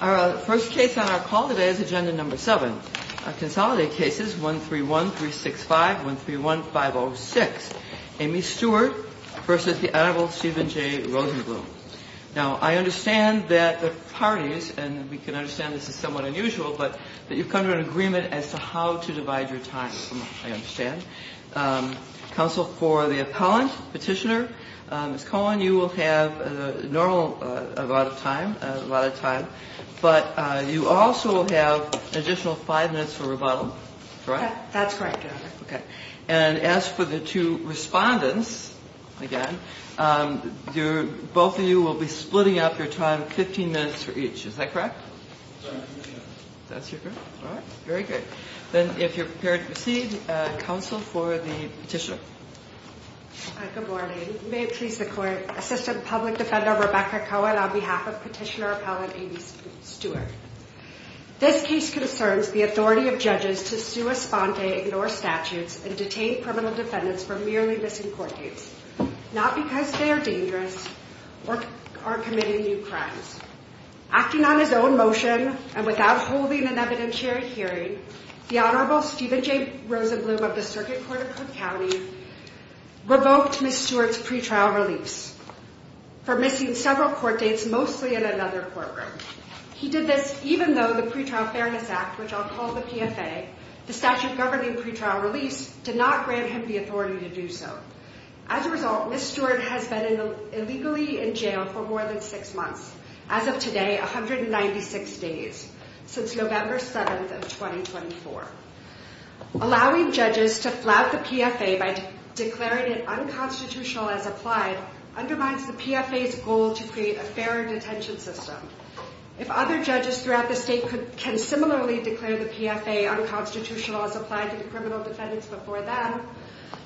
Our first case on our call today is Agenda No. 7, Consolidated Cases 131, 365, 131, 506, Amy Stewart v. The Honorable Stephen J. Rosenblum. Now, I understand that the parties, and we can understand this is somewhat unusual, but you've come to an agreement as to how to divide your time, I understand. Counsel, for the appellant, petitioner, Ms. Cohen, you will have a normal amount of time, a lot of time, but you also have an additional five minutes for rebuttal, correct? That's correct, Your Honor. Okay. And as for the two respondents, again, both of you will be splitting up your time 15 minutes for each. Is that correct? That's correct. That's your group? All right. Very good. Then if you're prepared to proceed, counsel for the petitioner. Good morning. May it please the Court, Assistant Public Defender Rebecca Cohen on behalf of Petitioner Appellant Amy Stewart. This case concerns the authority of judges to sue a sponte, ignore statutes, and detain criminal defendants for merely missing court dates, not because they are dangerous or committing new crimes. Acting on his own motion and without holding an evidentiary hearing, the Honorable Stephen J. Rosenblum of the Circuit Court of Cook County revoked Ms. Stewart's pretrial release for missing several court dates, mostly in another courtroom. He did this even though the Pretrial Fairness Act, which I'll call the PFA, the statute governing pretrial release, did not grant him the authority to do so. As a result, Ms. Stewart has been illegally in jail for more than six months, as of today, 196 days, since November 7th of 2024. Allowing judges to flout the PFA by declaring it unconstitutional as applied undermines the PFA's goal to create a fairer detention system. If other judges throughout the state can similarly declare the PFA unconstitutional as applied to the criminal defendants before them,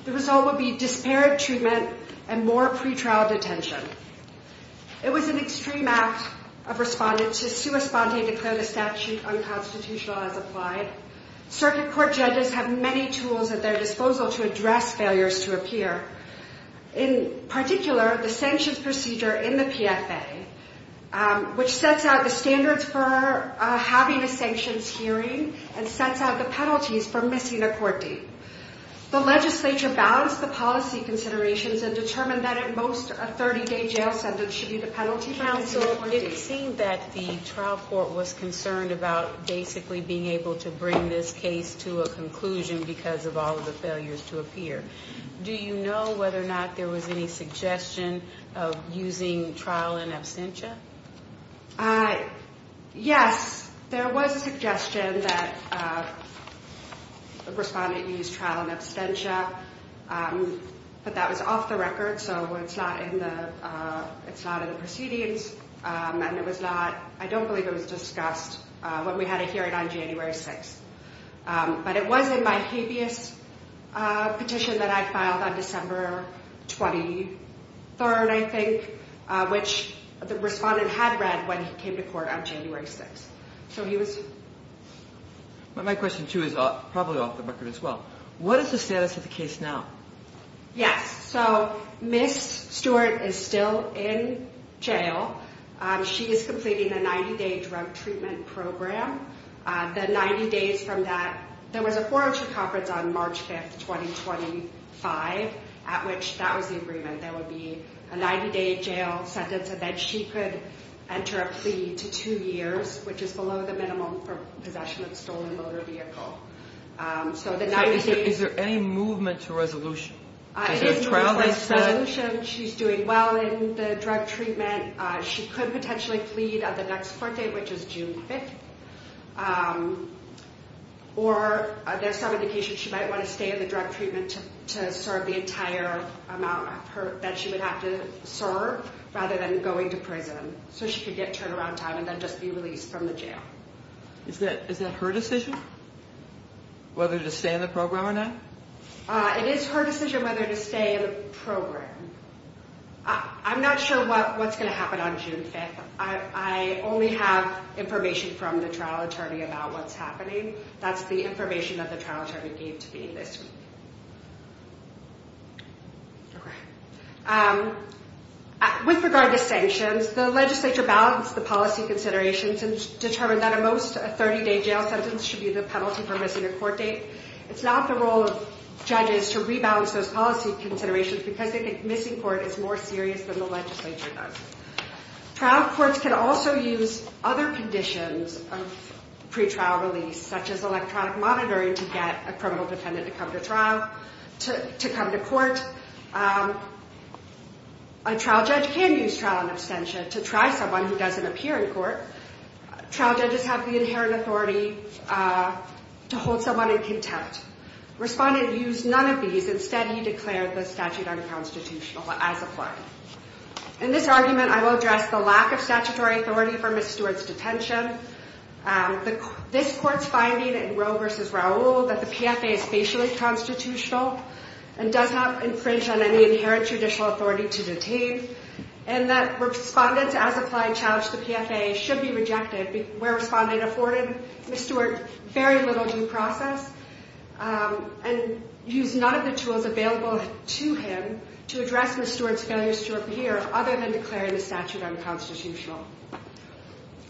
the result would be disparate treatment and more pretrial detention. It was an extreme act of responding to sue a sponte and declare the statute unconstitutional as applied. Circuit Court judges have many tools at their disposal to address failures to appear. In particular, the sanctions procedure in the PFA, which sets out the standards for having a sanctions hearing and sets out the penalties for missing a court date. The legislature balanced the policy considerations and determined that at most a 30-day jail sentence should be the penalty for missing a court date. It seemed that the trial court was concerned about basically being able to bring this case to a conclusion because of all of the failures to appear. Do you know whether or not there was any suggestion of using trial in absentia? Yes, there was a suggestion that a respondent use trial in absentia. But that was off the record, so it's not in the proceedings. And it was not, I don't believe it was discussed when we had a hearing on January 6th. But it was in my habeas petition that I filed on December 23rd, I think, which the respondent had read when he came to court on January 6th. My question too is probably off the record as well. What is the status of the case now? Yes, so Ms. Stewart is still in jail. She is completing a 90-day drug treatment program. The 90 days from that, there was a forgery conference on March 5th, 2025, at which that was the agreement. There would be a 90-day jail sentence and then she could enter a plea to two years, which is below the minimum for possession of a stolen motor vehicle. Is there any movement to resolution? She's doing well in the drug treatment. She could potentially flee the next court date, which is June 5th. Or there's some indication she might want to stay in the drug treatment to serve the entire amount that she would have to serve rather than going to prison. So she could get turnaround time and then just be released from the jail. Is that her decision, whether to stay in the program or not? It is her decision whether to stay in the program. I'm not sure what's going to happen on June 5th. I only have information from the trial attorney about what's happening. That's the information that the trial attorney gave to me this week. With regard to sanctions, the legislature balanced the policy considerations and determined that at most, a 30-day jail sentence should be the penalty for missing a court date. It's not the role of judges to rebalance those policy considerations because they think missing court is more serious than the legislature does. Trial courts can also use other conditions of pretrial release, such as electronic monitoring, to get a criminal defendant to come to court. A trial judge can use trial and abstention to try someone who doesn't appear in court. Trial judges have the inherent authority to hold someone in contempt. Respondent used none of these. Instead, he declared the statute unconstitutional as applied. In this argument, I will address the lack of statutory authority for Ms. Stewart's detention, this court's finding in Roe v. Raul that the PFA is facially constitutional and does not infringe on any inherent judicial authority to detain, and that respondents as applied challenged the PFA should be rejected where responding afforded Ms. Stewart very little due process, and used none of the tools available to him to address Ms. Stewart's failure to appear other than declaring the statute unconstitutional.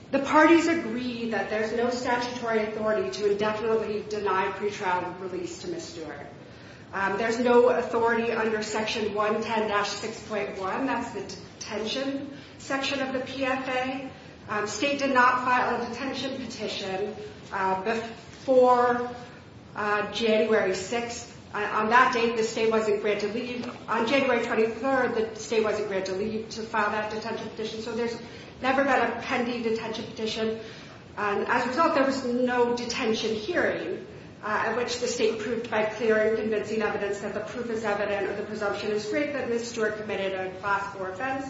The parties agree that there's no statutory authority to indefinitely deny pretrial release to Ms. Stewart. There's no authority under Section 110-6.1, that's the detention section of the PFA. State did not file a detention petition before January 6th. On that date, the state wasn't granted leave. On January 23rd, the state wasn't granted leave to file that detention petition, so there's never been a pending detention petition. As a result, there was no detention hearing, at which the state proved by clear and convincing evidence that the proof is evident or the presumption is great that Ms. Stewart committed a class 4 offense,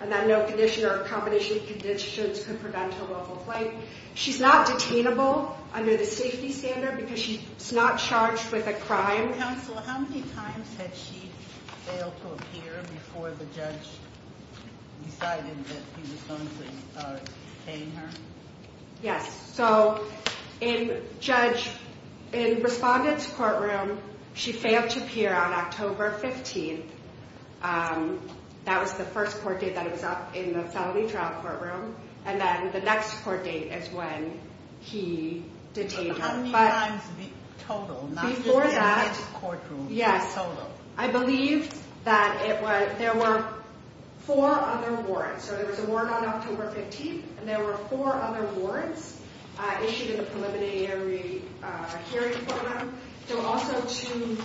and that no condition or combination of conditions could prevent her willful flight. She's not detainable under the safety standard because she's not charged with a crime. Counsel, how many times had she failed to appear before the judge decided that he was going to detain her? Yes, so in judge, in respondent's courtroom, she failed to appear on October 15th. That was the first court date that was up in the felony trial courtroom, and then the next court date is when he detained her. How many times in total? Before that, yes, I believe that there were four other warrants. So there was a warrant on October 15th, and there were four other warrants issued in the preliminary hearing program. There were also two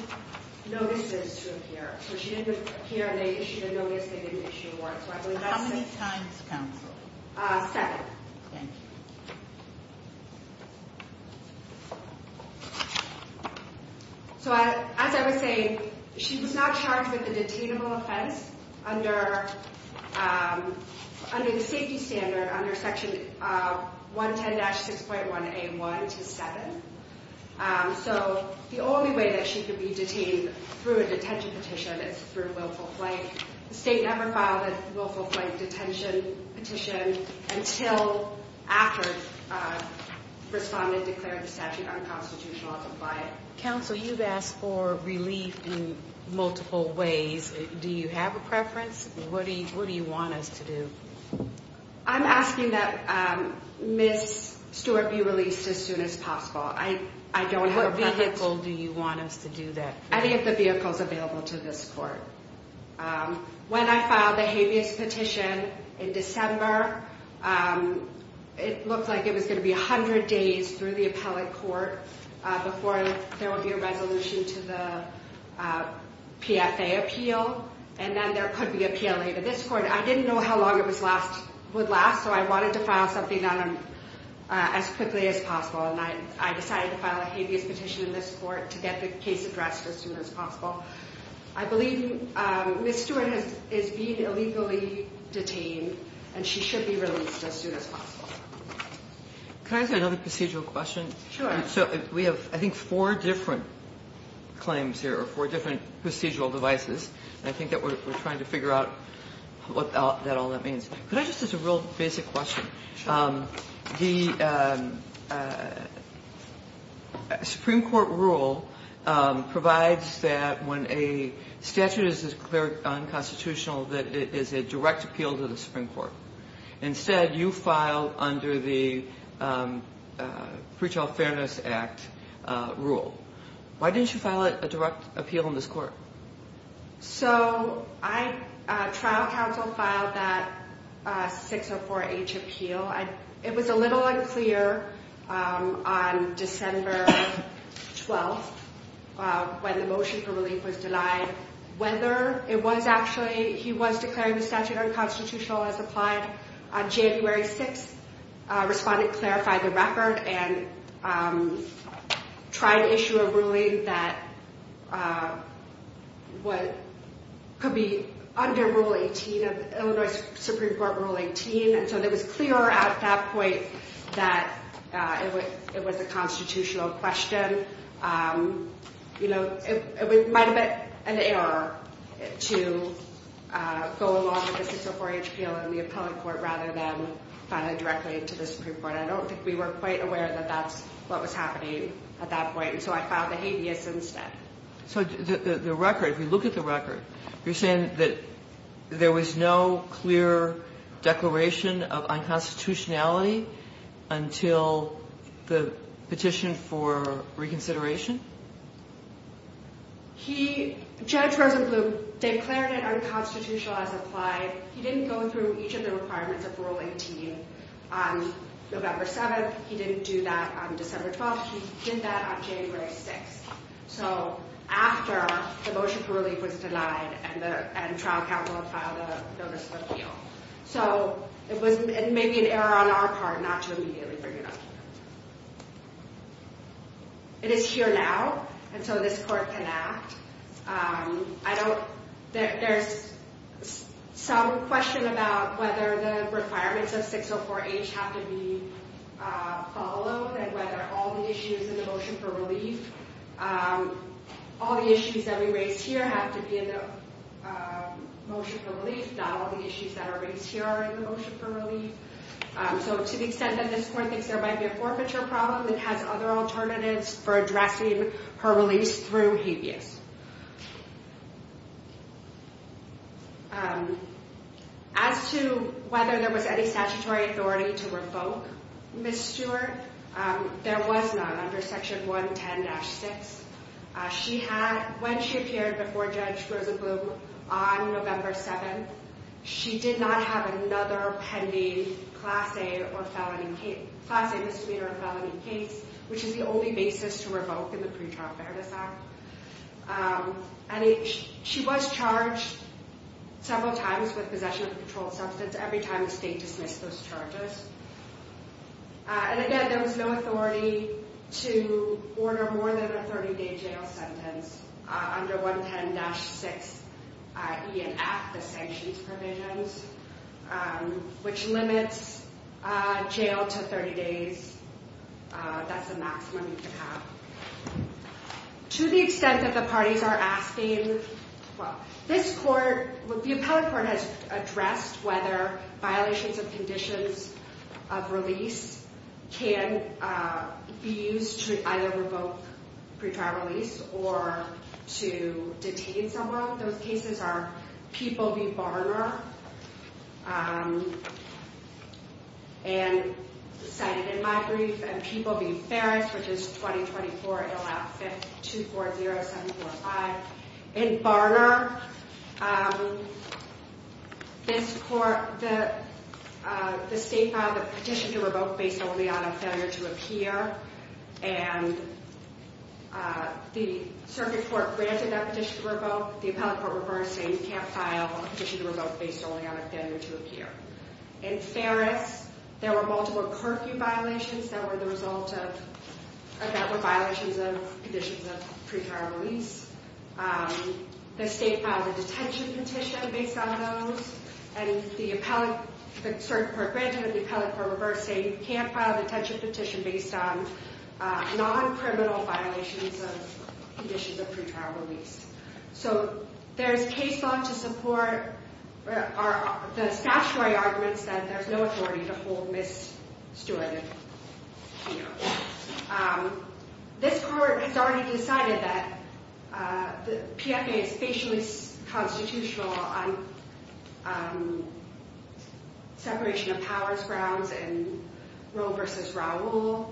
notices to appear. So she didn't appear and they issued a notice, they didn't issue a warrant, so I believe that's it. How many times, counsel? Seven. Thank you. So as I was saying, she was not charged with a detainable offense under the safety standard under Section 110-6.1A1-7. So the only way that she could be detained through a detention petition is through willful flight. The state never filed a willful flight detention petition until after respondent declared the statute unconstitutional to apply it. Counsel, you've asked for relief in multiple ways. Do you have a preference? What do you want us to do? I'm asking that Ms. Stewart be released as soon as possible. I don't have a preference. What vehicle do you want us to do that for? Any of the vehicles available to this court. When I filed the habeas petition in December, it looked like it was going to be 100 days through the appellate court before there would be a resolution to the PFA appeal. And then there could be a PLA to this court. I didn't know how long it would last, so I wanted to file something on them as quickly as possible. And I decided to file a habeas petition in this court to get the case addressed as soon as possible. I believe Ms. Stewart is being illegally detained, and she should be released as soon as possible. Can I ask another procedural question? Sure. So we have, I think, four different claims here, or four different procedural devices. And I think that we're trying to figure out what all that means. Could I just ask a real basic question? Sure. The Supreme Court rule provides that when a statute is declared unconstitutional that it is a direct appeal to the Supreme Court. Instead, you filed under the Pre-Trial Fairness Act rule. Why didn't you file a direct appeal in this court? So I, trial counsel filed that 604H appeal. It was a little unclear on December 12th when the motion for relief was denied whether it was actually, he was declaring the statute unconstitutional as applied. On January 6th, a respondent clarified the record and tried to issue a ruling that could be under Rule 18, Illinois Supreme Court Rule 18. And so it was clear at that point that it was a constitutional question. You know, it might have been an error to go along with the 604H appeal in the appellate court rather than file it directly to the Supreme Court. I don't think we were quite aware that that's what was happening at that point. So I filed the habeas instead. So the record, if you look at the record, you're saying that there was no clear declaration of unconstitutionality until the petition for reconsideration? Judge Rosenblum declared it unconstitutional as applied. He didn't go through each of the requirements of Rule 18 on November 7th. He didn't do that on December 12th. He did that on January 6th. So after the motion for relief was denied and trial counsel filed a notice of appeal. So it was maybe an error on our part not to immediately bring it up. It is here now, and so this court can act. I don't—there's some question about whether the requirements of 604H have to be followed and whether all the issues in the motion for relief, all the issues that we raise here have to be in the motion for relief, not all the issues that are raised here are in the motion for relief. So to the extent that this court thinks there might be a forfeiture problem, it has other alternatives for addressing her release through habeas. As to whether there was any statutory authority to revoke Ms. Stewart, there was none under Section 110-6. She had—when she appeared before Judge Rosenblum on November 7th, she did not have another pending Class A misdemeanor or felony case, which is the only basis to revoke in the Pretrial Fairness Act. And she was charged several times with possession of a controlled substance every time the state dismissed those charges. And again, there was no authority to order more than a 30-day jail sentence under 110-6ENF, the sanctions provisions, which limits jail to 30 days. That's the maximum you could have. To the extent that the parties are asking—well, this court, the appellate court, has addressed whether violations of conditions of release can be used to either revoke pretrial release or to detain someone. Those cases are People v. Barner and—cited in my brief—and People v. Ferris, which is 20-24-LF-240-745. In Barner, this court—the state filed a petition to revoke based only on a failure to appear, and the circuit court granted that petition to revoke. The appellate court reversed, saying you can't file a petition to revoke based only on a failure to appear. In Ferris, there were multiple curfew violations that were the result of— that were violations of conditions of pretrial release. The state filed a detention petition based on those, and the appellate—the circuit court granted that the appellate court reversed, saying you can't file a detention petition based on non-criminal violations of conditions of pretrial release. So, there's case law to support the statutory arguments that there's no authority to hold Ms. Stewart, you know. This court has already decided that the PFA is facially constitutional on separation of powers grounds and Roe v. Raul.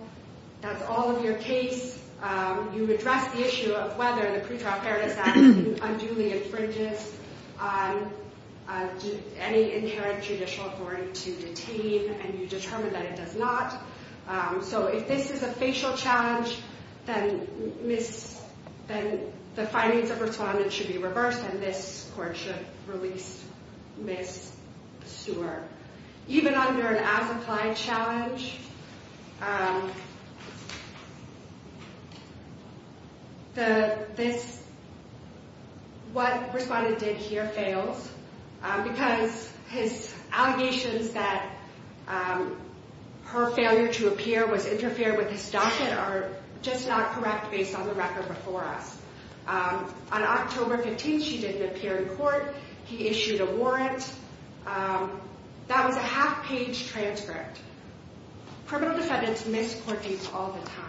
That's all of your case. You address the issue of whether the pretrial fairness act unduly infringes on any inherent judicial authority to detain, and you determine that it does not. So, if this is a facial challenge, then Ms.—then the findings of respondent should be reversed, and this court should release Ms. Stewart. Even under an as-applied challenge, the—this—what respondent did here fails because his allegations that her failure to appear was interfering with his docket are just not correct based on the record before us. On October 15th, she didn't appear in court. He issued a warrant. That was a half-page transcript. Criminal defendants miss court dates all the time.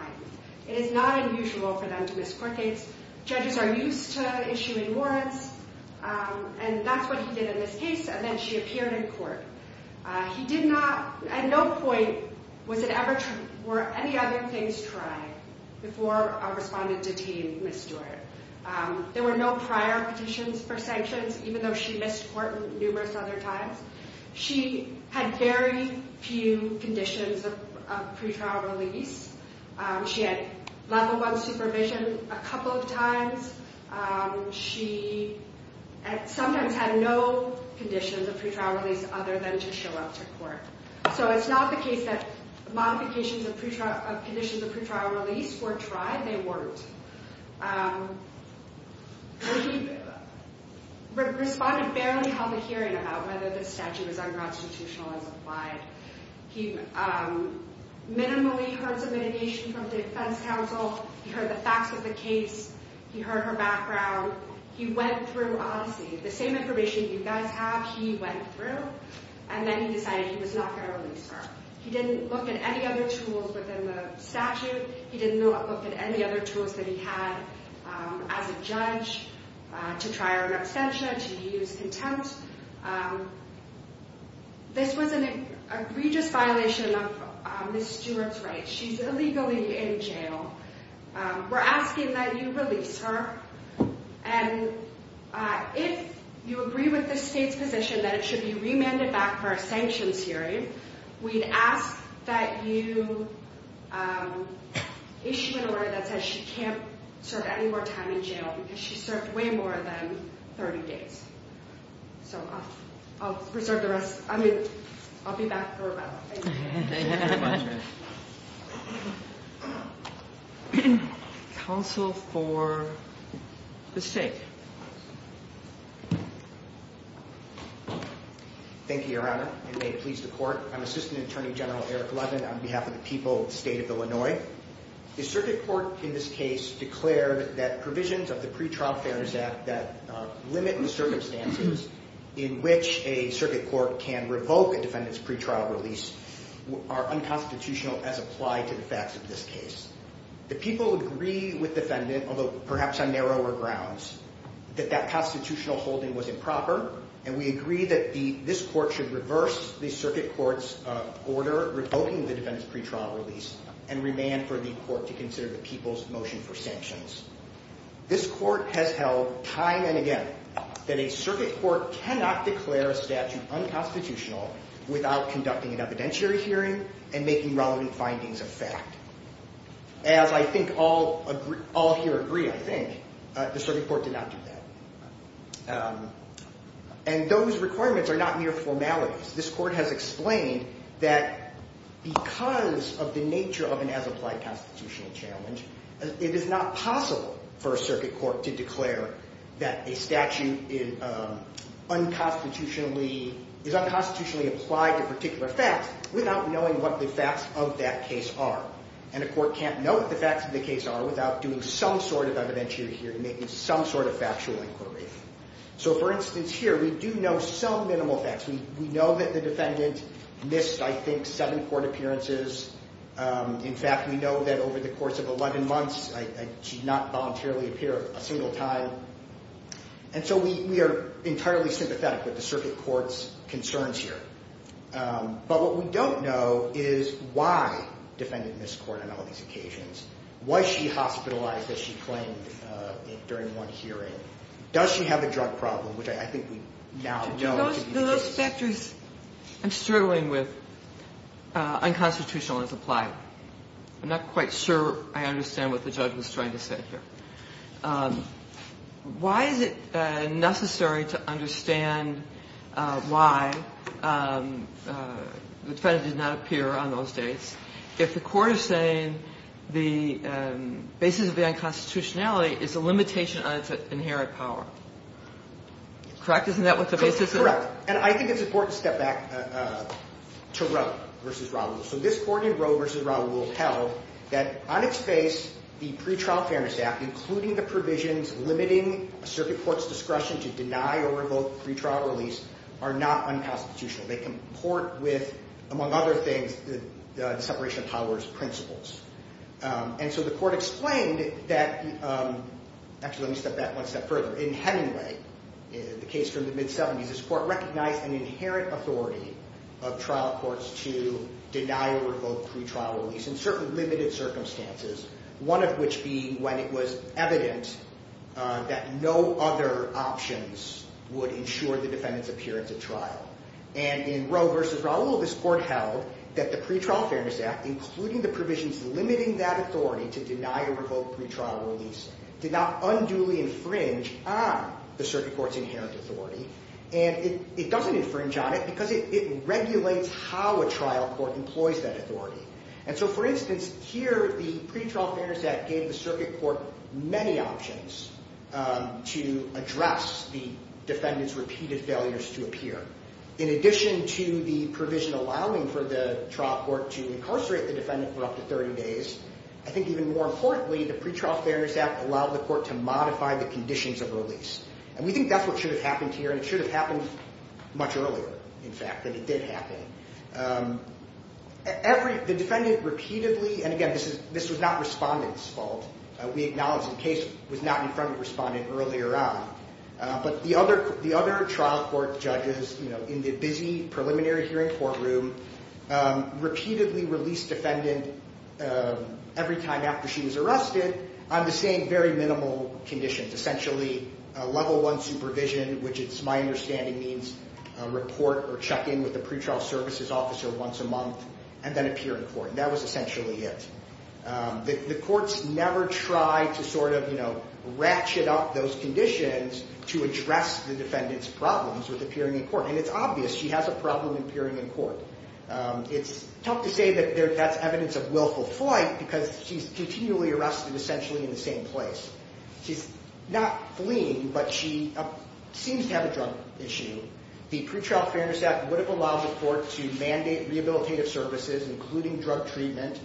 It is not unusual for them to miss court dates. Judges are used to issuing warrants, and that's what he did in this case, and then she appeared in court. He did not—at no point was it ever—were any other things tried before a respondent detained Ms. Stewart. There were no prior petitions for sanctions, even though she missed court numerous other times. She had very few conditions of pretrial release. She had level one supervision a couple of times. She sometimes had no conditions of pretrial release other than to show up to court. So, it's not the case that modifications of conditions of pretrial release were tried. They weren't. He responded barely held a hearing about whether the statute was unconstitutional as applied. He minimally heard some mitigation from the defense counsel. He heard the facts of the case. He heard her background. He went through Odyssey. The same information you guys have, he went through, and then he decided he was not going to release her. He didn't look at any other tools within the statute. He didn't look at any other tools that he had as a judge to try her on abstention, to use contempt. This was an egregious violation of Ms. Stewart's rights. She's illegally in jail. We're asking that you release her, and if you agree with the state's position that it should be remanded back for a sanctions hearing, we'd ask that you issue an order that says she can't serve any more time in jail because she served way more than 30 days. So, I'll reserve the rest. I'll be back for a while. Thank you. Counsel for the State. Thank you, Your Honor. I may please the court. I'm Assistant Attorney General Eric Levin on behalf of the people of the state of Illinois. The circuit court in this case declared that provisions of the Pretrial Fairness Act that limit the circumstances in which a circuit court can revoke a defendant's pretrial release are unconstitutional as applied to the facts of this case. The people agree with the defendant, although perhaps on narrower grounds, that that constitutional holding was improper, and we agree that this court should reverse the circuit court's order revoking the defendant's pretrial release and remand for the court to consider the people's motion for sanctions. This court has held time and again that a circuit court cannot declare a statute unconstitutional without conducting an evidentiary hearing and making relevant findings of fact. As I think all here agree, I think, the circuit court did not do that. And those requirements are not mere formalities. This court has explained that because of the nature of an as-applied constitutional challenge, it is not possible for a circuit court to declare that a statute is unconstitutionally applied to particular facts without knowing what the facts of that case are. And a court can't know what the facts of the case are without doing some sort of evidentiary hearing, making some sort of factual inquiry. So, for instance, here we do know some minimal facts. We know that the defendant missed, I think, seven court appearances. In fact, we know that over the course of 11 months, she did not voluntarily appear a single time. And so we are entirely sympathetic with the circuit court's concerns here. But what we don't know is why the defendant missed court on all these occasions. Was she hospitalized, as she claimed during one hearing? Does she have a drug problem, which I think we now know could be the case. Those factors I'm struggling with, unconstitutional as applied. I'm not quite sure I understand what the judge was trying to say here. Why is it necessary to understand why the defendant did not appear on those dates if the court is saying the basis of the unconstitutionality is a limitation on its inherent power? Correct? Isn't that what the basis is? Correct. And I think it's important to step back to Roe v. Raul. So this court in Roe v. Raul held that on its face, the pretrial fairness act, including the provisions limiting a circuit court's discretion to deny or revoke pretrial release, are not unconstitutional. They comport with, among other things, the separation of powers principles. And so the court explained that, actually let me step back one step further. In Hemingway, the case from the mid-70s, this court recognized an inherent authority of trial courts to deny or revoke pretrial release in certain limited circumstances. One of which being when it was evident that no other options would ensure the defendant's appearance at trial. And in Roe v. Raul, this court held that the pretrial fairness act, including the provisions limiting that authority to deny or revoke pretrial release, did not unduly infringe on the circuit court's inherent authority. And it doesn't infringe on it because it regulates how a trial court employs that authority. And so, for instance, here the pretrial fairness act gave the circuit court many options to address the defendant's repeated failures to appear. In addition to the provision allowing for the trial court to incarcerate the defendant for up to 30 days, I think even more importantly, the pretrial fairness act allowed the court to modify the conditions of release. And we think that's what should have happened here. And it should have happened much earlier, in fact, than it did happen. The defendant repeatedly, and again, this was not respondent's fault. We acknowledge the case was not in front of the respondent earlier on. But the other trial court judges, you know, in the busy preliminary hearing courtroom, repeatedly released defendant every time after she was arrested on the same very minimal conditions. Essentially, level one supervision, which it's my understanding means report or check in with the pretrial services officer once a month, and then appear in court. And that was essentially it. The courts never tried to sort of, you know, ratchet up those conditions to address the defendant's problems with appearing in court. And it's obvious she has a problem appearing in court. It's tough to say that that's evidence of willful flight because she's continually arrested essentially in the same place. She's not fleeing, but she seems to have a drug issue. The pretrial fairness act would have allowed the court to mandate rehabilitative services, including drug treatment,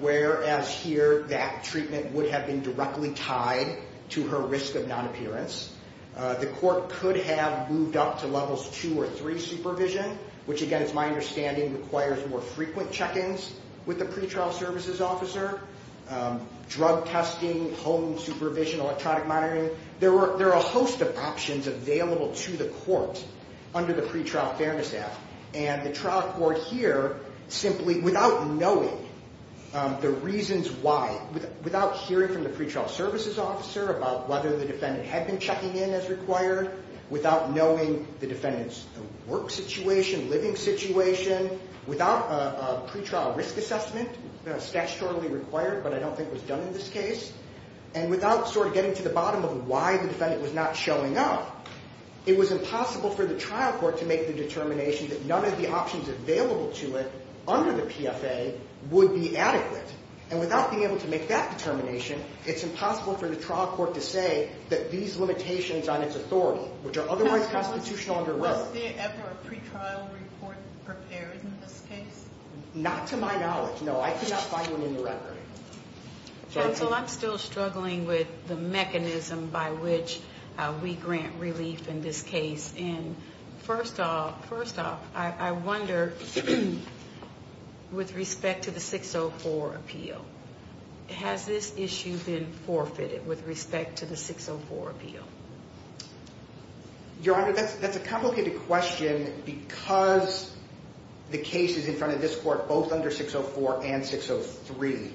whereas here that treatment would have been directly tied to her risk of non-appearance. The court could have moved up to levels two or three supervision, which, again, it's my understanding, requires more frequent check ins with the pretrial services officer, drug testing, home supervision, electronic monitoring. There are a host of options available to the court under the pretrial fairness act. And the trial court here simply, without knowing the reasons why, without hearing from the pretrial services officer about whether the defendant had been checking in as required, without knowing the defendant's work situation, living situation, without a pretrial risk assessment, statutorily required, but I don't think was done in this case, and without sort of getting to the bottom of why the defendant was not showing up, it was impossible for the trial court to make the determination that none of the options available to it under the PFA would be adequate. And without being able to make that determination, it's impossible for the trial court to say that these limitations on its authority, which are otherwise constitutional under Roe. Was there ever a pretrial report prepared in this case? Not to my knowledge, no. I could not find one in the record. Counsel, I'm still struggling with the mechanism by which we grant relief in this case. And first off, I wonder, with respect to the 604 appeal, has this issue been forfeited with respect to the 604 appeal? Your Honor, that's a complicated question because the case is in front of this court, both under 604 and 603.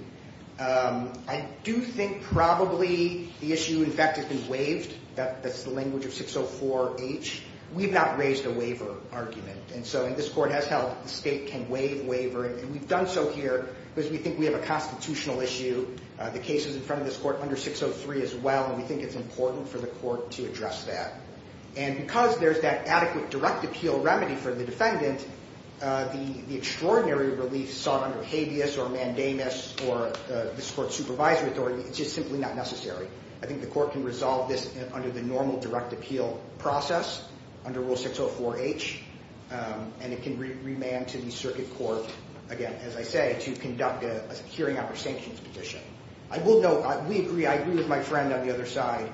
I do think probably the issue, in fact, has been waived. That's the language of 604H. We've not raised a waiver argument. And so this court has held the state can waive waiver, and we've done so here because we think we have a constitutional issue. The case is in front of this court under 603 as well, and we think it's important for the court to address that. And because there's that adequate direct appeal remedy for the defendant, the extraordinary relief sought under habeas or mandamus or this court's supervisory authority is just simply not necessary. I think the court can resolve this under the normal direct appeal process, under Rule 604H, and it can remand to the circuit court, again, as I say, to conduct a hearing after sanctions petition. I will note, we agree, I agree with my friend on the other side,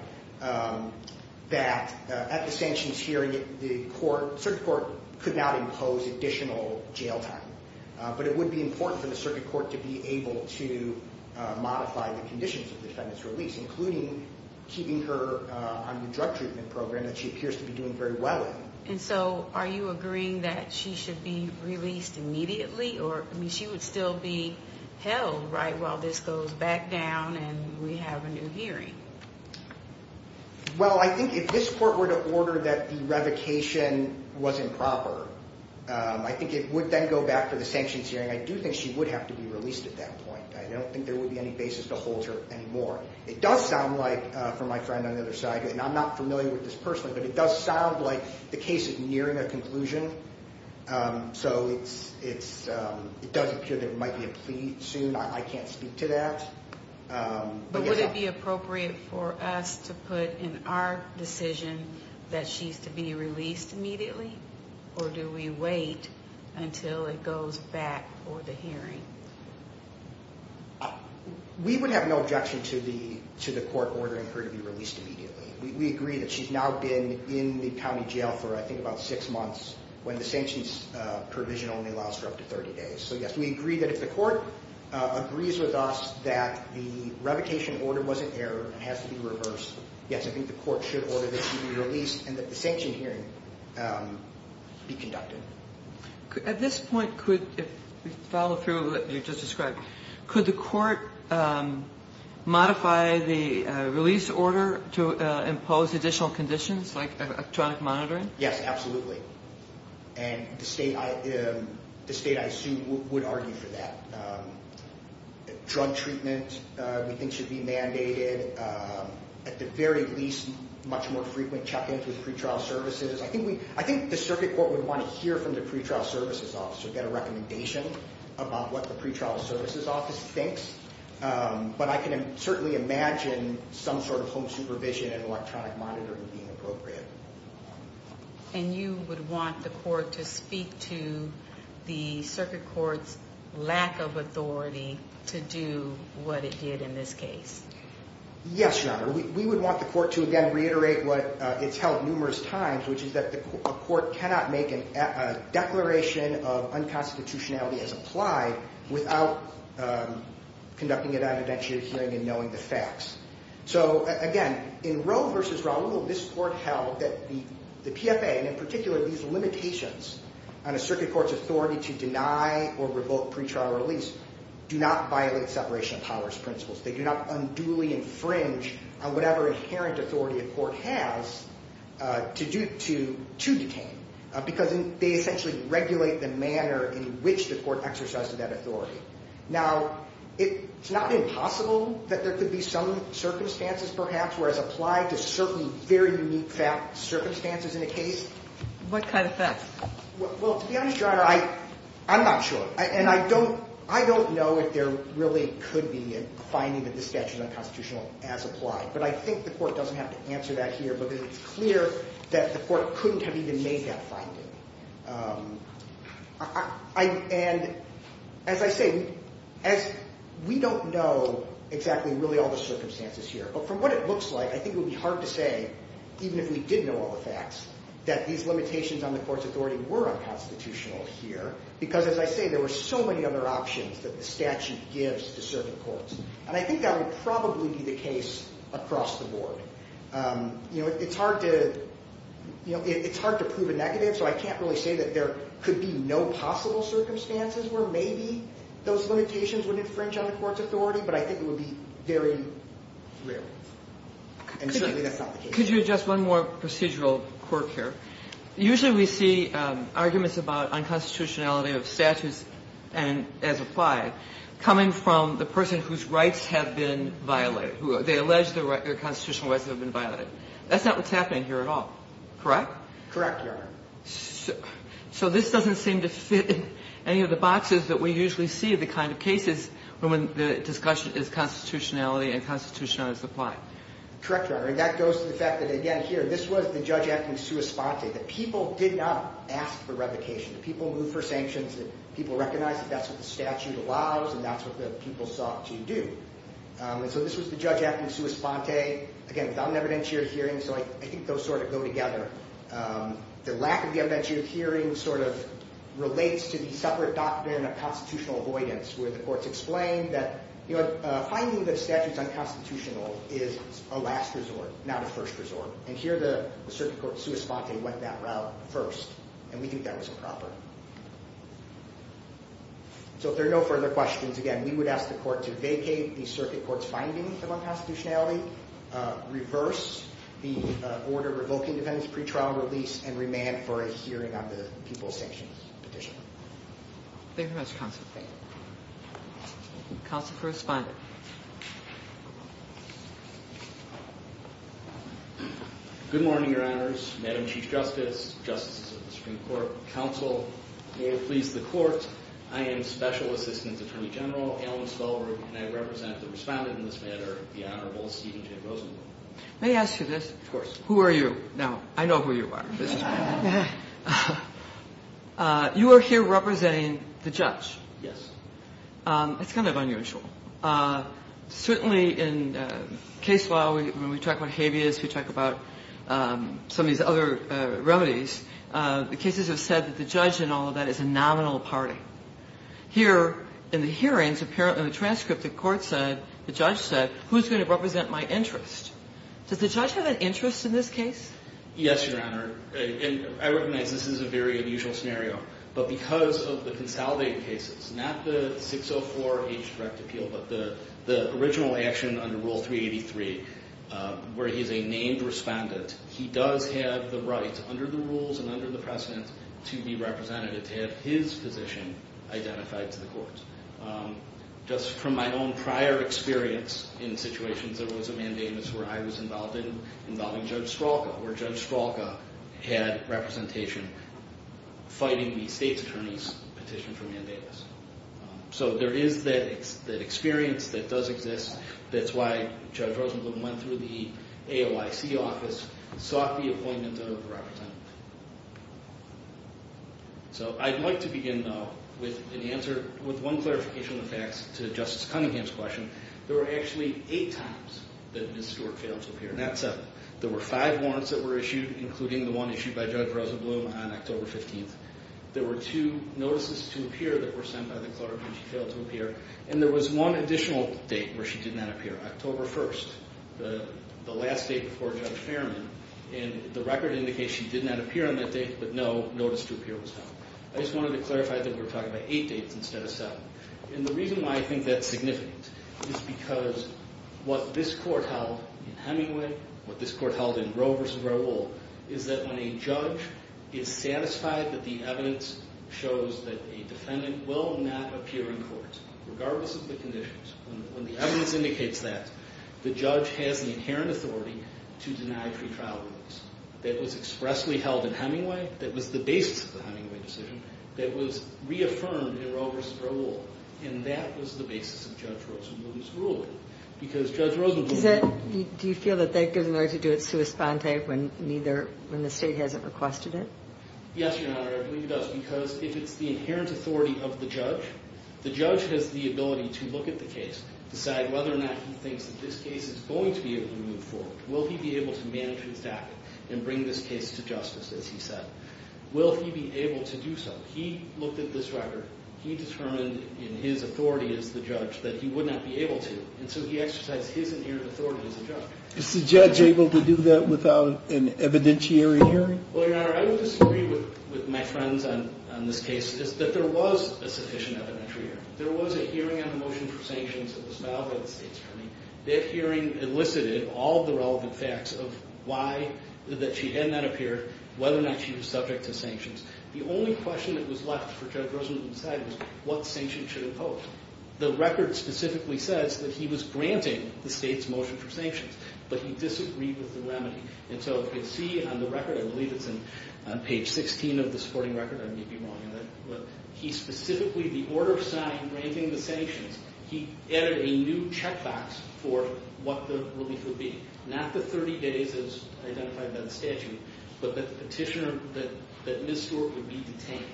that at the sanctions hearing, the circuit court could not impose additional jail time. But it would be important for the circuit court to be able to modify the conditions of the defendant's release, including keeping her on the drug treatment program that she appears to be doing very well in. And so are you agreeing that she should be released immediately, or she would still be held while this goes back down and we have a new hearing? Well, I think if this court were to order that the revocation was improper, I think it would then go back to the sanctions hearing. I do think she would have to be released at that point. I don't think there would be any basis to hold her anymore. It does sound like, from my friend on the other side, and I'm not familiar with this personally, but it does sound like the case is nearing a conclusion. So it does appear there might be a plea soon. I can't speak to that. But would it be appropriate for us to put in our decision that she's to be released immediately, or do we wait until it goes back for the hearing? We would have no objection to the court ordering her to be released immediately. We agree that she's now been in the county jail for, I think, about six months, when the sanctions provision only allows for up to 30 days. So, yes, we agree that if the court agrees with us that the revocation order was an error and has to be reversed, yes, I think the court should order that she be released and that the sanction hearing be conducted. At this point, if we follow through with what you just described, could the court modify the release order to impose additional conditions like electronic monitoring? Yes, absolutely. And the state, I assume, would argue for that. Drug treatment, we think, should be mandated. At the very least, much more frequent check-ins with pretrial services. I think the circuit court would want to hear from the pretrial services office to get a recommendation about what the pretrial services office thinks. But I can certainly imagine some sort of home supervision and electronic monitoring being appropriate. And you would want the court to speak to the circuit court's lack of authority to do what it did in this case? Yes, Your Honor. We would want the court to, again, reiterate what it's held numerous times, which is that a court cannot make a declaration of unconstitutionality as applied without conducting an evidentiary hearing and knowing the facts. So, again, in Roe v. Raul, this court held that the PFA, and in particular these limitations on a circuit court's authority to deny or revoke pretrial release, do not violate separation of powers principles. They do not unduly infringe on whatever inherent authority a court has to detain. Because they essentially regulate the manner in which the court exercises that authority. Now, it's not impossible that there could be some circumstances, perhaps, where it's applied to certain very unique circumstances in a case. What kind of facts? Well, to be honest, Your Honor, I'm not sure. And I don't know if there really could be a finding that this statute is unconstitutional as applied. But I think the court doesn't have to answer that here, because it's clear that the court couldn't have even made that finding. And as I say, we don't know exactly, really, all the circumstances here. But from what it looks like, I think it would be hard to say, even if we did know all the facts, that these limitations on the court's authority were unconstitutional here. Because, as I say, there were so many other options that the statute gives to certain courts. And I think that would probably be the case across the board. You know, it's hard to prove a negative, so I can't really say that there could be no possible circumstances where maybe those limitations would infringe on the court's authority. But I think it would be very rare. And certainly that's not the case. Could you address one more procedural quirk here? Usually we see arguments about unconstitutionality of statutes as applied coming from the person whose rights have been violated. They allege their constitutional rights have been violated. That's not what's happening here at all. Correct? Correct, Your Honor. So this doesn't seem to fit in any of the boxes that we usually see of the kind of cases when the discussion is constitutionality and constitutionality is applied. Correct, Your Honor. And that goes to the fact that, again, here, this was the judge acting sua sponte. The people did not ask for revocation. The people moved for sanctions. The people recognized that that's what the statute allows and that's what the people sought to do. And so this was the judge acting sua sponte, again, without an evidentiary hearing. So I think those sort of go together. The lack of the evidentiary hearing sort of relates to the separate doctrine of constitutional avoidance where the courts explain that finding that a statute is unconstitutional is a last resort, not a first resort. And here the circuit court sua sponte went that route first, and we think that was improper. So if there are no further questions, again, we would ask the court to vacate the circuit court's finding of unconstitutionality, reverse the order revoking defendant's pretrial release, and remand for a hearing on the people's sanctions petition. Thank you, Mr. Constantine. Counsel to the respondent. Good morning, Your Honors, Madam Chief Justice, Justices of the Supreme Court, Counsel, and may it please the Court, I am Special Assistant Attorney General Alan Stolberg, and I represent the respondent in this matter, the Honorable Stephen J. Rosenblum. May I ask you this? Of course. Who are you? Now, I know who you are. You are here representing the judge. Yes. It's kind of unusual. Certainly in case law, when we talk about habeas, we talk about some of these other remedies, the cases have said that the judge in all of that is a nominal party. Here in the hearings, apparently in the transcript, the court said, the judge said, who's going to represent my interest? Does the judge have an interest in this case? Yes, Your Honor, and I recognize this is a very unusual scenario, but because of the consolidated cases, not the 604H direct appeal, but the original action under Rule 383 where he's a named respondent, he does have the right under the rules and under the precedent to be representative, to have his position identified to the courts. Just from my own prior experience in situations, there was a mandamus where I was involved in involving Judge Stralka, where Judge Stralka had representation fighting the state's attorney's petition for mandamus. So there is that experience that does exist. That's why Judge Rosenblum went through the AOIC office, sought the appointment of a representative. So I'd like to begin, though, with an answer, with one clarification of facts to Justice Cunningham's question. There were actually eight times that Ms. Stewart failed to appear, not seven. There were five warrants that were issued, including the one issued by Judge Rosenblum on October 15th. There were two notices to appear that were sent by the court when she failed to appear, and there was one additional date where she did not appear, October 1st, the last date before Judge Fairman, and the record indicates she did not appear on that date, but no notice to appear was sent. I just wanted to clarify that we're talking about eight dates instead of seven. And the reason why I think that's significant is because what this court held in Hemingway, what this court held in Roe v. Roe will, is that when a judge is satisfied that the evidence shows that a defendant will not appear in court, regardless of the conditions, when the evidence indicates that, the judge has the inherent authority to deny pretrial rulings. That was expressly held in Hemingway, that was the basis of the Hemingway decision, that was reaffirmed in Roe v. Roe will, and that was the basis of Judge Rosenblum's ruling. Because Judge Rosenblum... Do you feel that that gives an order to do it sua sponte when the state hasn't requested it? Yes, Your Honor, I believe it does. Because if it's the inherent authority of the judge, the judge has the ability to look at the case, decide whether or not he thinks that this case is going to be able to move forward. Will he be able to manage his staff and bring this case to justice, as he said? Will he be able to do so? He looked at this record. He determined in his authority as the judge that he would not be able to, and so he exercised his inherent authority as a judge. Is the judge able to do that without an evidentiary hearing? Well, Your Honor, I would disagree with my friends on this case. There was a sufficient evidentiary hearing. There was a hearing on the motion for sanctions that was filed by the state's attorney. That hearing elicited all the relevant facts of why she did not appear, whether or not she was subject to sanctions. The only question that was left for Judge Rosenblum to decide was what sanctions should impose. The record specifically says that he was granting the state's motion for sanctions, but he disagreed with the remedy. And so if you see on the record, I believe it's on page 16 of the supporting record, I may be wrong, but he specifically, the order of sign granting the sanctions, he added a new checkbox for what the relief would be, not the 30 days as identified by the statute, but the petitioner that Ms. Stewart would be detained.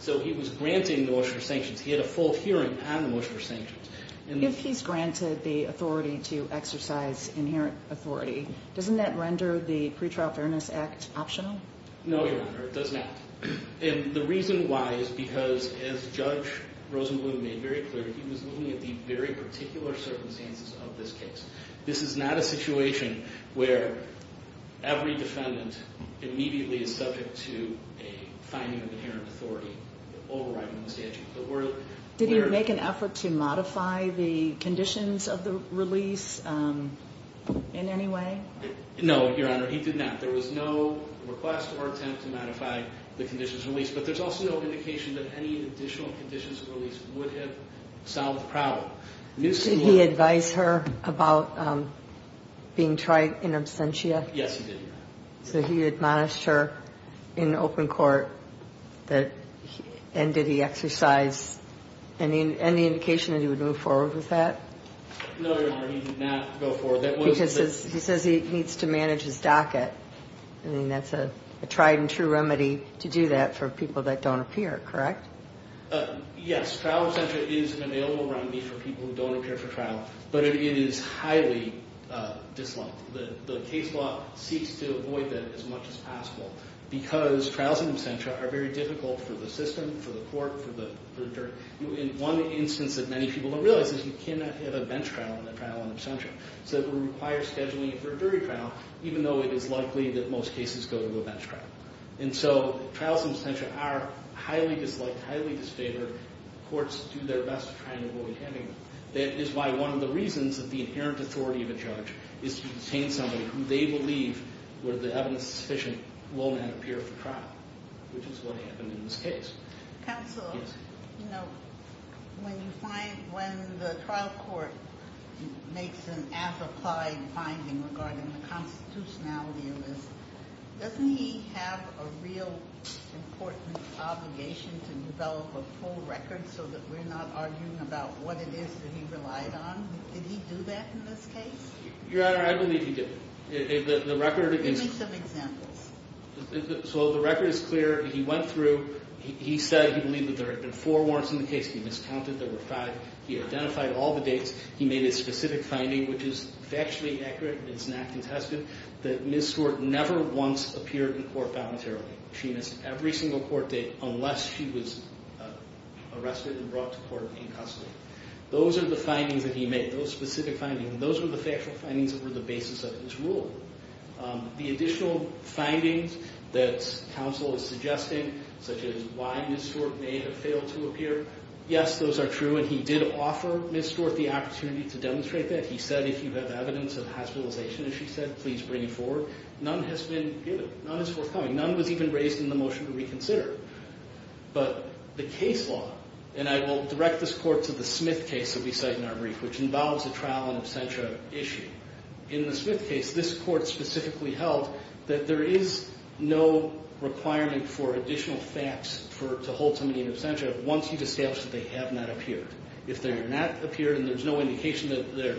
So he was granting the motion for sanctions. He had a full hearing on the motion for sanctions. If he's granted the authority to exercise inherent authority, doesn't that render the Pretrial Fairness Act optional? No, Your Honor. It does not. And the reason why is because, as Judge Rosenblum made very clear, he was looking at the very particular circumstances of this case. This is not a situation where every defendant immediately is subject to a finding of inherent authority overriding the statute. Did he make an effort to modify the conditions of the release in any way? No, Your Honor. He did not. There was no request or attempt to modify the conditions of release, but there's also no indication that any additional conditions of release would have solved the problem. Did he advise her about being tried in absentia? Yes, he did, Your Honor. So he admonished her in open court, and did he exercise any indication that he would move forward with that? No, Your Honor, he did not go forward. Because he says he needs to manage his docket. I mean, that's a tried and true remedy to do that for people that don't appear, correct? Yes. Trial absentia is available around me for people who don't appear for trial, but it is highly disliked. The case law seeks to avoid that as much as possible because trials in absentia are very difficult for the system, for the court, for the jury. One instance that many people don't realize is you cannot have a bench trial in a trial in absentia. So it would require scheduling for a jury trial, even though it is likely that most cases go to a bench trial. And so trials in absentia are highly disliked, highly disfavored. Courts do their best to try and avoid having them. That is why one of the reasons that the inherent authority of a judge is to detain somebody who they believe, where the evidence is sufficient, will not appear for trial, which is what happened in this case. Counsel, you know, when you find, when the trial court makes an applied finding regarding the constitutionality of this, doesn't he have a real important obligation to develop a full record so that we're not arguing about what it is that he relied on? Did he do that in this case? Your Honor, I believe he did. Give me some examples. So the record is clear. He went through. He said he believed that there had been four warrants in the case. He miscounted. There were five. He identified all the dates. He made a specific finding, which is factually accurate and is not contested, that Ms. Stewart never once appeared in court voluntarily. She missed every single court date unless she was arrested and brought to court in custody. Those are the findings that he made, those specific findings, and those were the factual findings that were the basis of his rule. The additional findings that counsel is suggesting, such as why Ms. Stewart may have failed to appear, yes, those are true, and he did offer Ms. Stewart the opportunity to demonstrate that. He said, if you have evidence of hospitalization, as she said, please bring it forward. None has been given. None is forthcoming. None was even raised in the motion to reconsider. But the case law, and I will direct this court to the Smith case that we cite in our brief, which involves a trial and absentia issue. In the Smith case, this court specifically held that there is no requirement for additional facts to hold somebody in absentia once you've established that they have not appeared. If they have not appeared and there's no indication that they're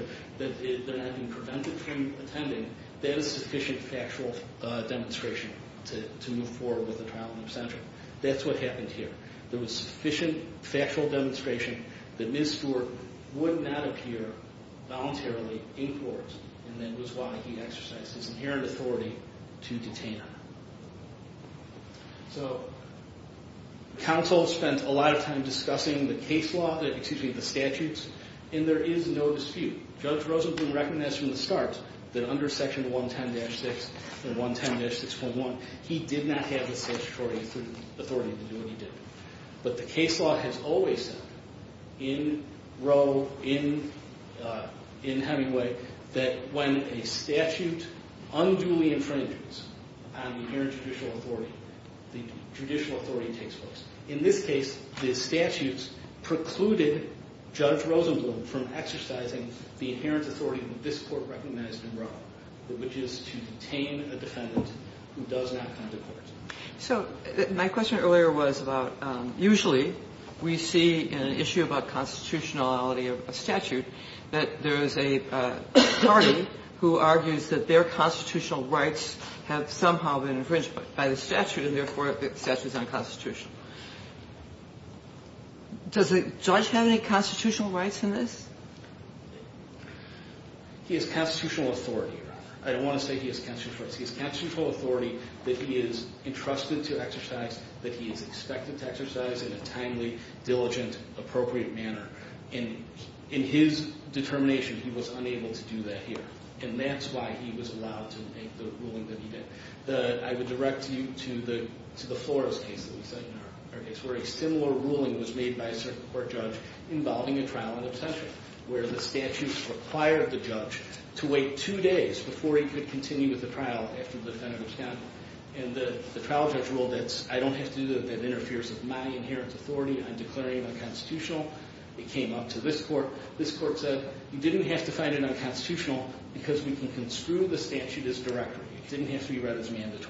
not being prevented from attending, that is sufficient factual demonstration to move forward with the trial and absentia. That's what happened here. There was sufficient factual demonstration that Ms. Stewart would not appear voluntarily in court, and that was why he exercised his inherent authority to detain her. So counsel spent a lot of time discussing the case law, excuse me, the statutes, and there is no dispute. Judge Rosenblum recognized from the start that under Section 110-6 and 110-6.1, he did not have the statutory authority to do what he did. But the case law has always said in Roe, in Hemingway, that when a statute unduly infringes on the inherent judicial authority, the judicial authority takes place. In this case, the statutes precluded Judge Rosenblum from exercising the inherent authority that this Court recognized in Roe, which is to detain a defendant who does not come to court. So my question earlier was about usually we see in an issue about constitutionality of a statute that there is a party who argues that their constitutional rights have somehow been infringed by the statute and, therefore, the statute is unconstitutional. Does the judge have any constitutional rights in this? He has constitutional authority. I don't want to say he has constitutional rights. He has constitutional authority that he is entrusted to exercise, that he is expected to exercise in a timely, diligent, appropriate manner. In his determination, he was unable to do that here, and that's why he was allowed to make the ruling that he did. I would direct you to the Flores case that we cite in our case, where a similar ruling was made by a certain court judge involving a trial in absentia, where the statute required the judge to wait two days before he could continue with the trial after the defendant was done. And the trial judge ruled that I don't have to do that. That interferes with my inherent authority. I'm declaring it unconstitutional. It came up to this Court. This Court said you didn't have to find it unconstitutional because we can construe the statute as directory. It didn't have to be read as mandatory.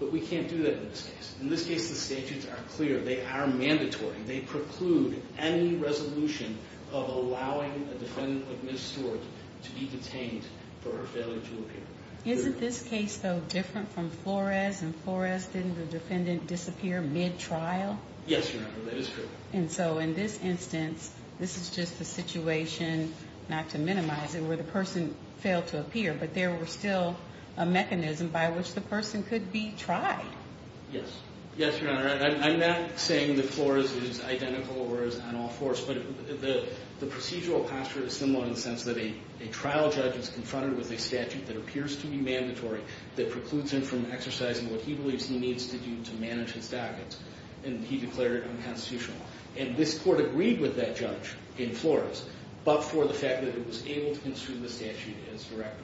But we can't do that in this case. In this case, the statutes are clear. They are mandatory. They preclude any resolution of allowing a defendant like Ms. Stewart to be detained for her failure to appear. Isn't this case, though, different from Flores? In Flores, didn't the defendant disappear mid-trial? Yes, Your Honor, that is correct. And so in this instance, this is just the situation, not to minimize it, where the person failed to appear, but there was still a mechanism by which the person could be tried. Yes. Yes, Your Honor. I'm not saying that Flores is identical or is on all fours, but the procedural posture is similar in the sense that a trial judge is confronted with a statute that appears to be mandatory that precludes him from exercising what he believes he needs to do to manage his dockets, and he declared it unconstitutional. And this Court agreed with that judge in Flores, but for the fact that it was able to construe the statute as directory.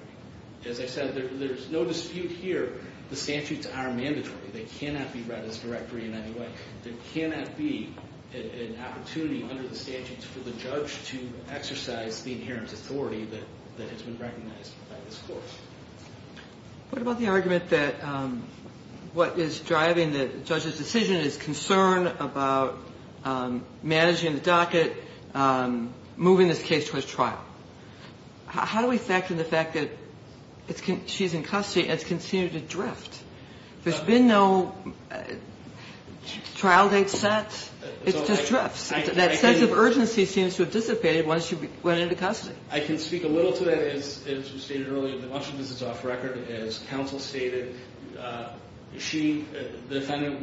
As I said, there's no dispute here. The statutes are mandatory. They cannot be read as directory in any way. There cannot be an opportunity under the statutes for the judge to exercise the inherent authority that has been recognized by this Court. What about the argument that what is driving the judge's decision is concern about managing the docket, moving this case towards trial? How do we factor in the fact that she's in custody and has continued to drift? There's been no trial date set. It's just drifts. That sense of urgency seems to have dissipated once she went into custody. I can speak a little to that. As you stated earlier, the motion is off record. As counsel stated, the defendant,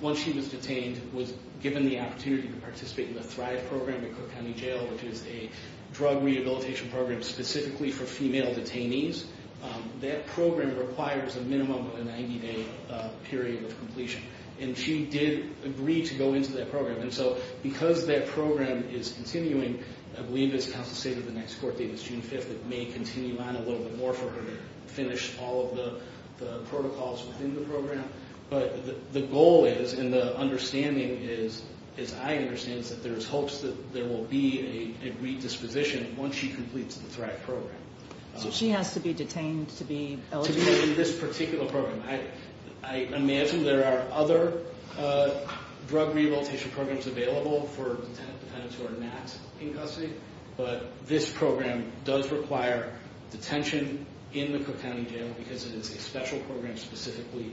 once she was detained, was given the opportunity to participate in the Thrive Program at Cook County Jail, which is a drug rehabilitation program specifically for female detainees. That program requires a minimum of a 90-day period of completion. She did agree to go into that program. Because that program is continuing, I believe, as counsel stated, the next court date is June 5th. It may continue on a little bit more for her to finish all of the protocols within the program. The goal is and the understanding is, as I understand it, is that there's hopes that there will be a redisposition once she completes the Thrive Program. So she has to be detained to be eligible? To be in this particular program. I imagine there are other drug rehabilitation programs available for defendants who are not in custody. But this program does require detention in the Cook County Jail because it is a special program specifically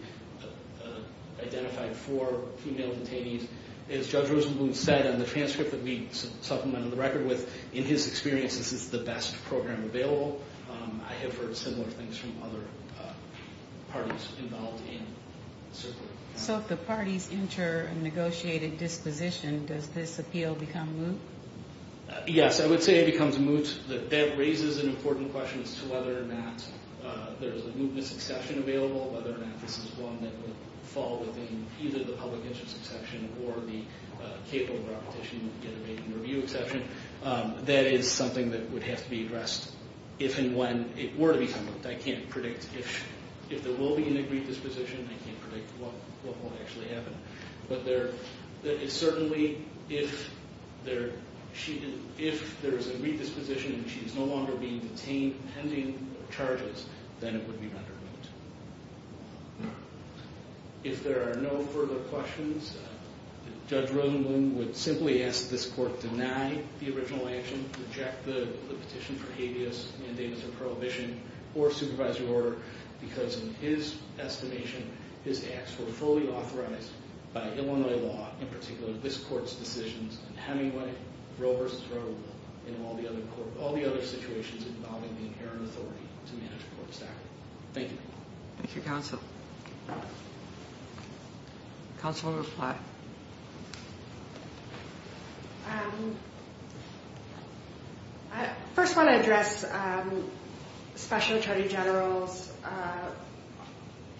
identified for female detainees. As Judge Rosenblum said in the transcript that we supplemented the record with, in his experience, this is the best program available. I have heard similar things from other parties involved in the circuit. So if the parties enter a negotiated disposition, does this appeal become moot? Yes, I would say it becomes moot. That raises an important question as to whether or not there's a mootness exception available, whether or not this is one that would fall within either the public interest exception or the capable repetition of a review exception. That is something that would have to be addressed if and when it were to become moot. I can't predict if there will be an agreed disposition. I can't predict what will actually happen. But certainly if there is a redisposition and she is no longer being detained pending charges, then it would be rendered moot. If there are no further questions, Judge Rosenblum would simply ask that this court deny the original action, reject the petition for habeas, mandamus of prohibition, or supervisory order because in his estimation, his acts were fully authorized by Illinois law, in particular this court's decisions in Hemingway, Roe v. Roe, and all the other situations involving the inherent authority to manage court staff. Thank you. Thank you, Counsel. Counsel will reply. I first want to address Special Attorney General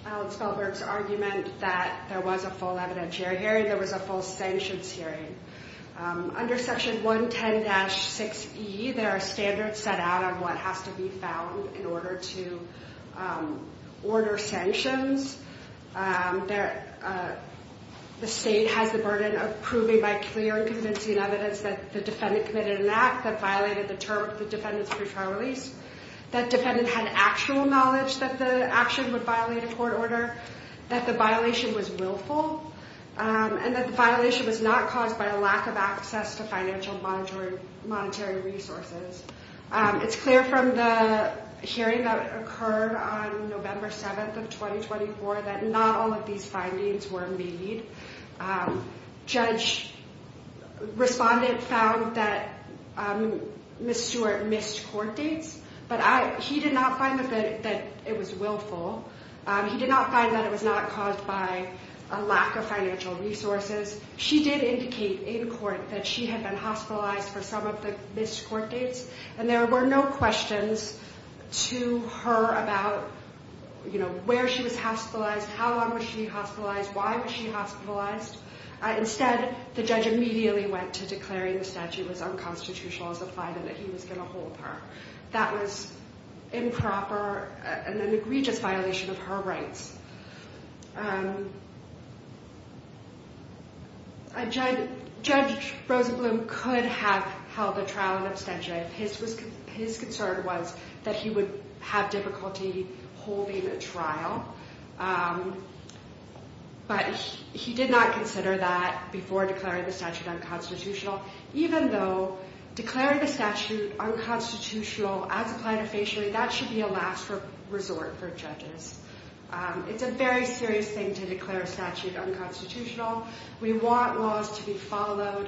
Alan Spellberg's argument that there was a full evidentiary hearing, there was a full sanctions hearing. Under Section 110-6E, there are standards set out on what has to be found in order to order sanctions. The state has the burden of proving by clear and convincing evidence that the defendant committed an act that violated the defendant's pre-trial release, that defendant had actual knowledge that the action would violate a court order, that the violation was willful, and that the violation was not caused by a lack of access to financial and monetary resources. It's clear from the hearing that occurred on November 7th of 2024 that not all of these findings were made. Judge Respondent found that Ms. Stewart missed court dates, but he did not find that it was willful. He did not find that it was not caused by a lack of financial resources. She did indicate in court that she had been hospitalized for some of the missed court dates, and there were no questions to her about where she was hospitalized, how long was she hospitalized, why was she hospitalized. Instead, the judge immediately went to declaring the statute was unconstitutional as a fine and that he was going to hold her. That was improper and an egregious violation of her rights. Judge Rosenblum could have held a trial in absentia. His concern was that he would have difficulty holding a trial, but he did not consider that before declaring the statute unconstitutional. Even though declaring the statute unconstitutional as a plaintiff's issue, that should be a last resort for judges. It's a very serious thing to declare a statute unconstitutional. We want laws to be followed.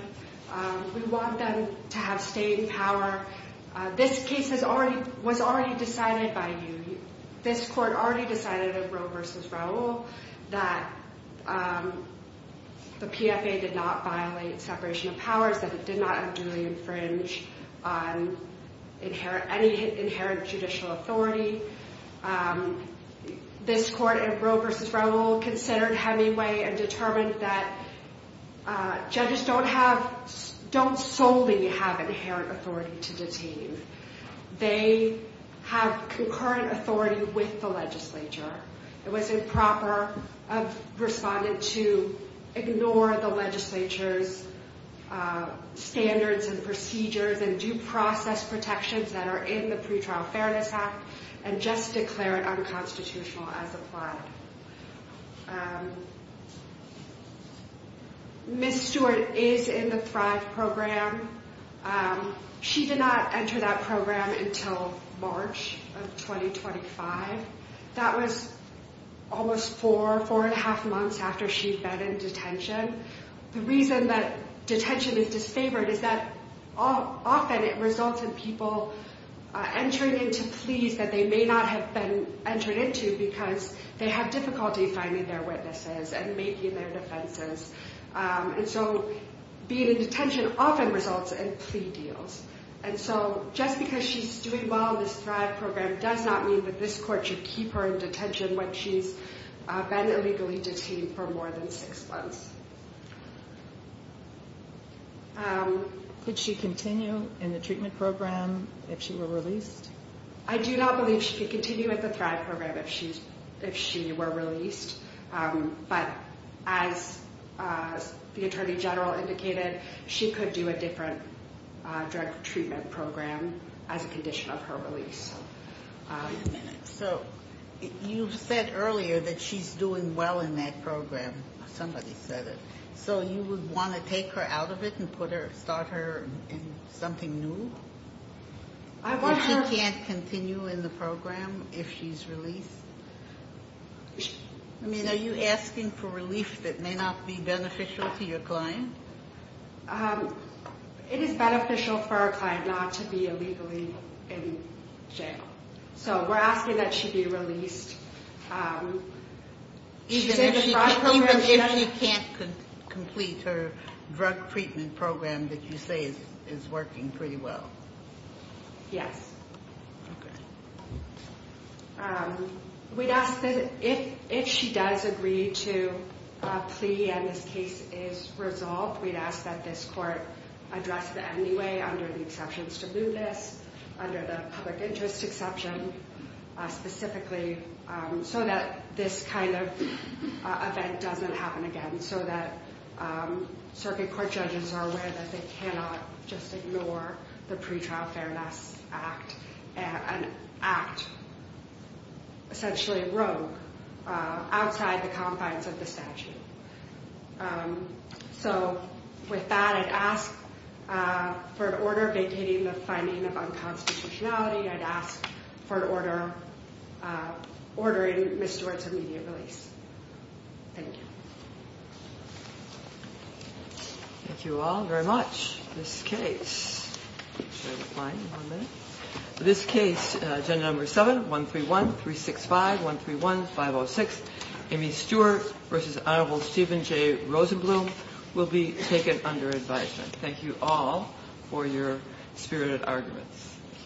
We want them to have staying power. This case was already decided by you. This court already decided in Roe v. Raul that the PFA did not violate separation of powers, that it did not unduly infringe on any inherent judicial authority. This court in Roe v. Raul considered heavy way and determined that judges don't solely have inherent authority to detain. They have concurrent authority with the legislature. It was improper of respondents to ignore the legislature's standards and procedures and due process protections that are in the Pretrial Fairness Act and just declare it unconstitutional as applied. Ms. Stewart is in the Thrive Program. She did not enter that program until March of 2025. That was almost four, four and a half months after she'd been in detention. The reason that detention is disfavored is that often it results in people entering into pleas that they may not have been entered into because they have difficulty finding their witnesses and making their defenses. Being in detention often results in plea deals. Just because she's doing well in this Thrive Program does not mean that this court should keep her in detention when she's been illegally detained for more than six months. Could she continue in the treatment program if she were released? I do not believe she could continue with the Thrive Program if she were released. But as the Attorney General indicated, she could do a different drug treatment program as a condition of her release. So you said earlier that she's doing well in that program. Somebody said it. So you would want to take her out of it and put her, start her in something new? If she can't continue in the program if she's released? I mean, are you asking for relief that may not be beneficial to your client? It is beneficial for our client not to be illegally in jail. So we're asking that she be released. Even if she can't complete her drug treatment program that you say is working pretty well? Yes. We'd ask that if she does agree to a plea and this case is resolved, we'd ask that this court address that anyway under the exceptions to blue list, under the public interest exception specifically, so that this kind of event doesn't happen again, so that circuit court judges are aware that they cannot just ignore the pretrial fairness act and act essentially rogue outside the confines of the statute. So with that, I'd ask for an order vacating the finding of unconstitutionality. I'd ask for an order ordering Ms. Stewart's immediate release. Thank you. Thank you all very much. This case, agenda number 7, 131, 365, 131, 506, Amy Stewart v. Hon. Stephen J. Rosenblum will be taken under advisement. Thank you all for your spirited arguments.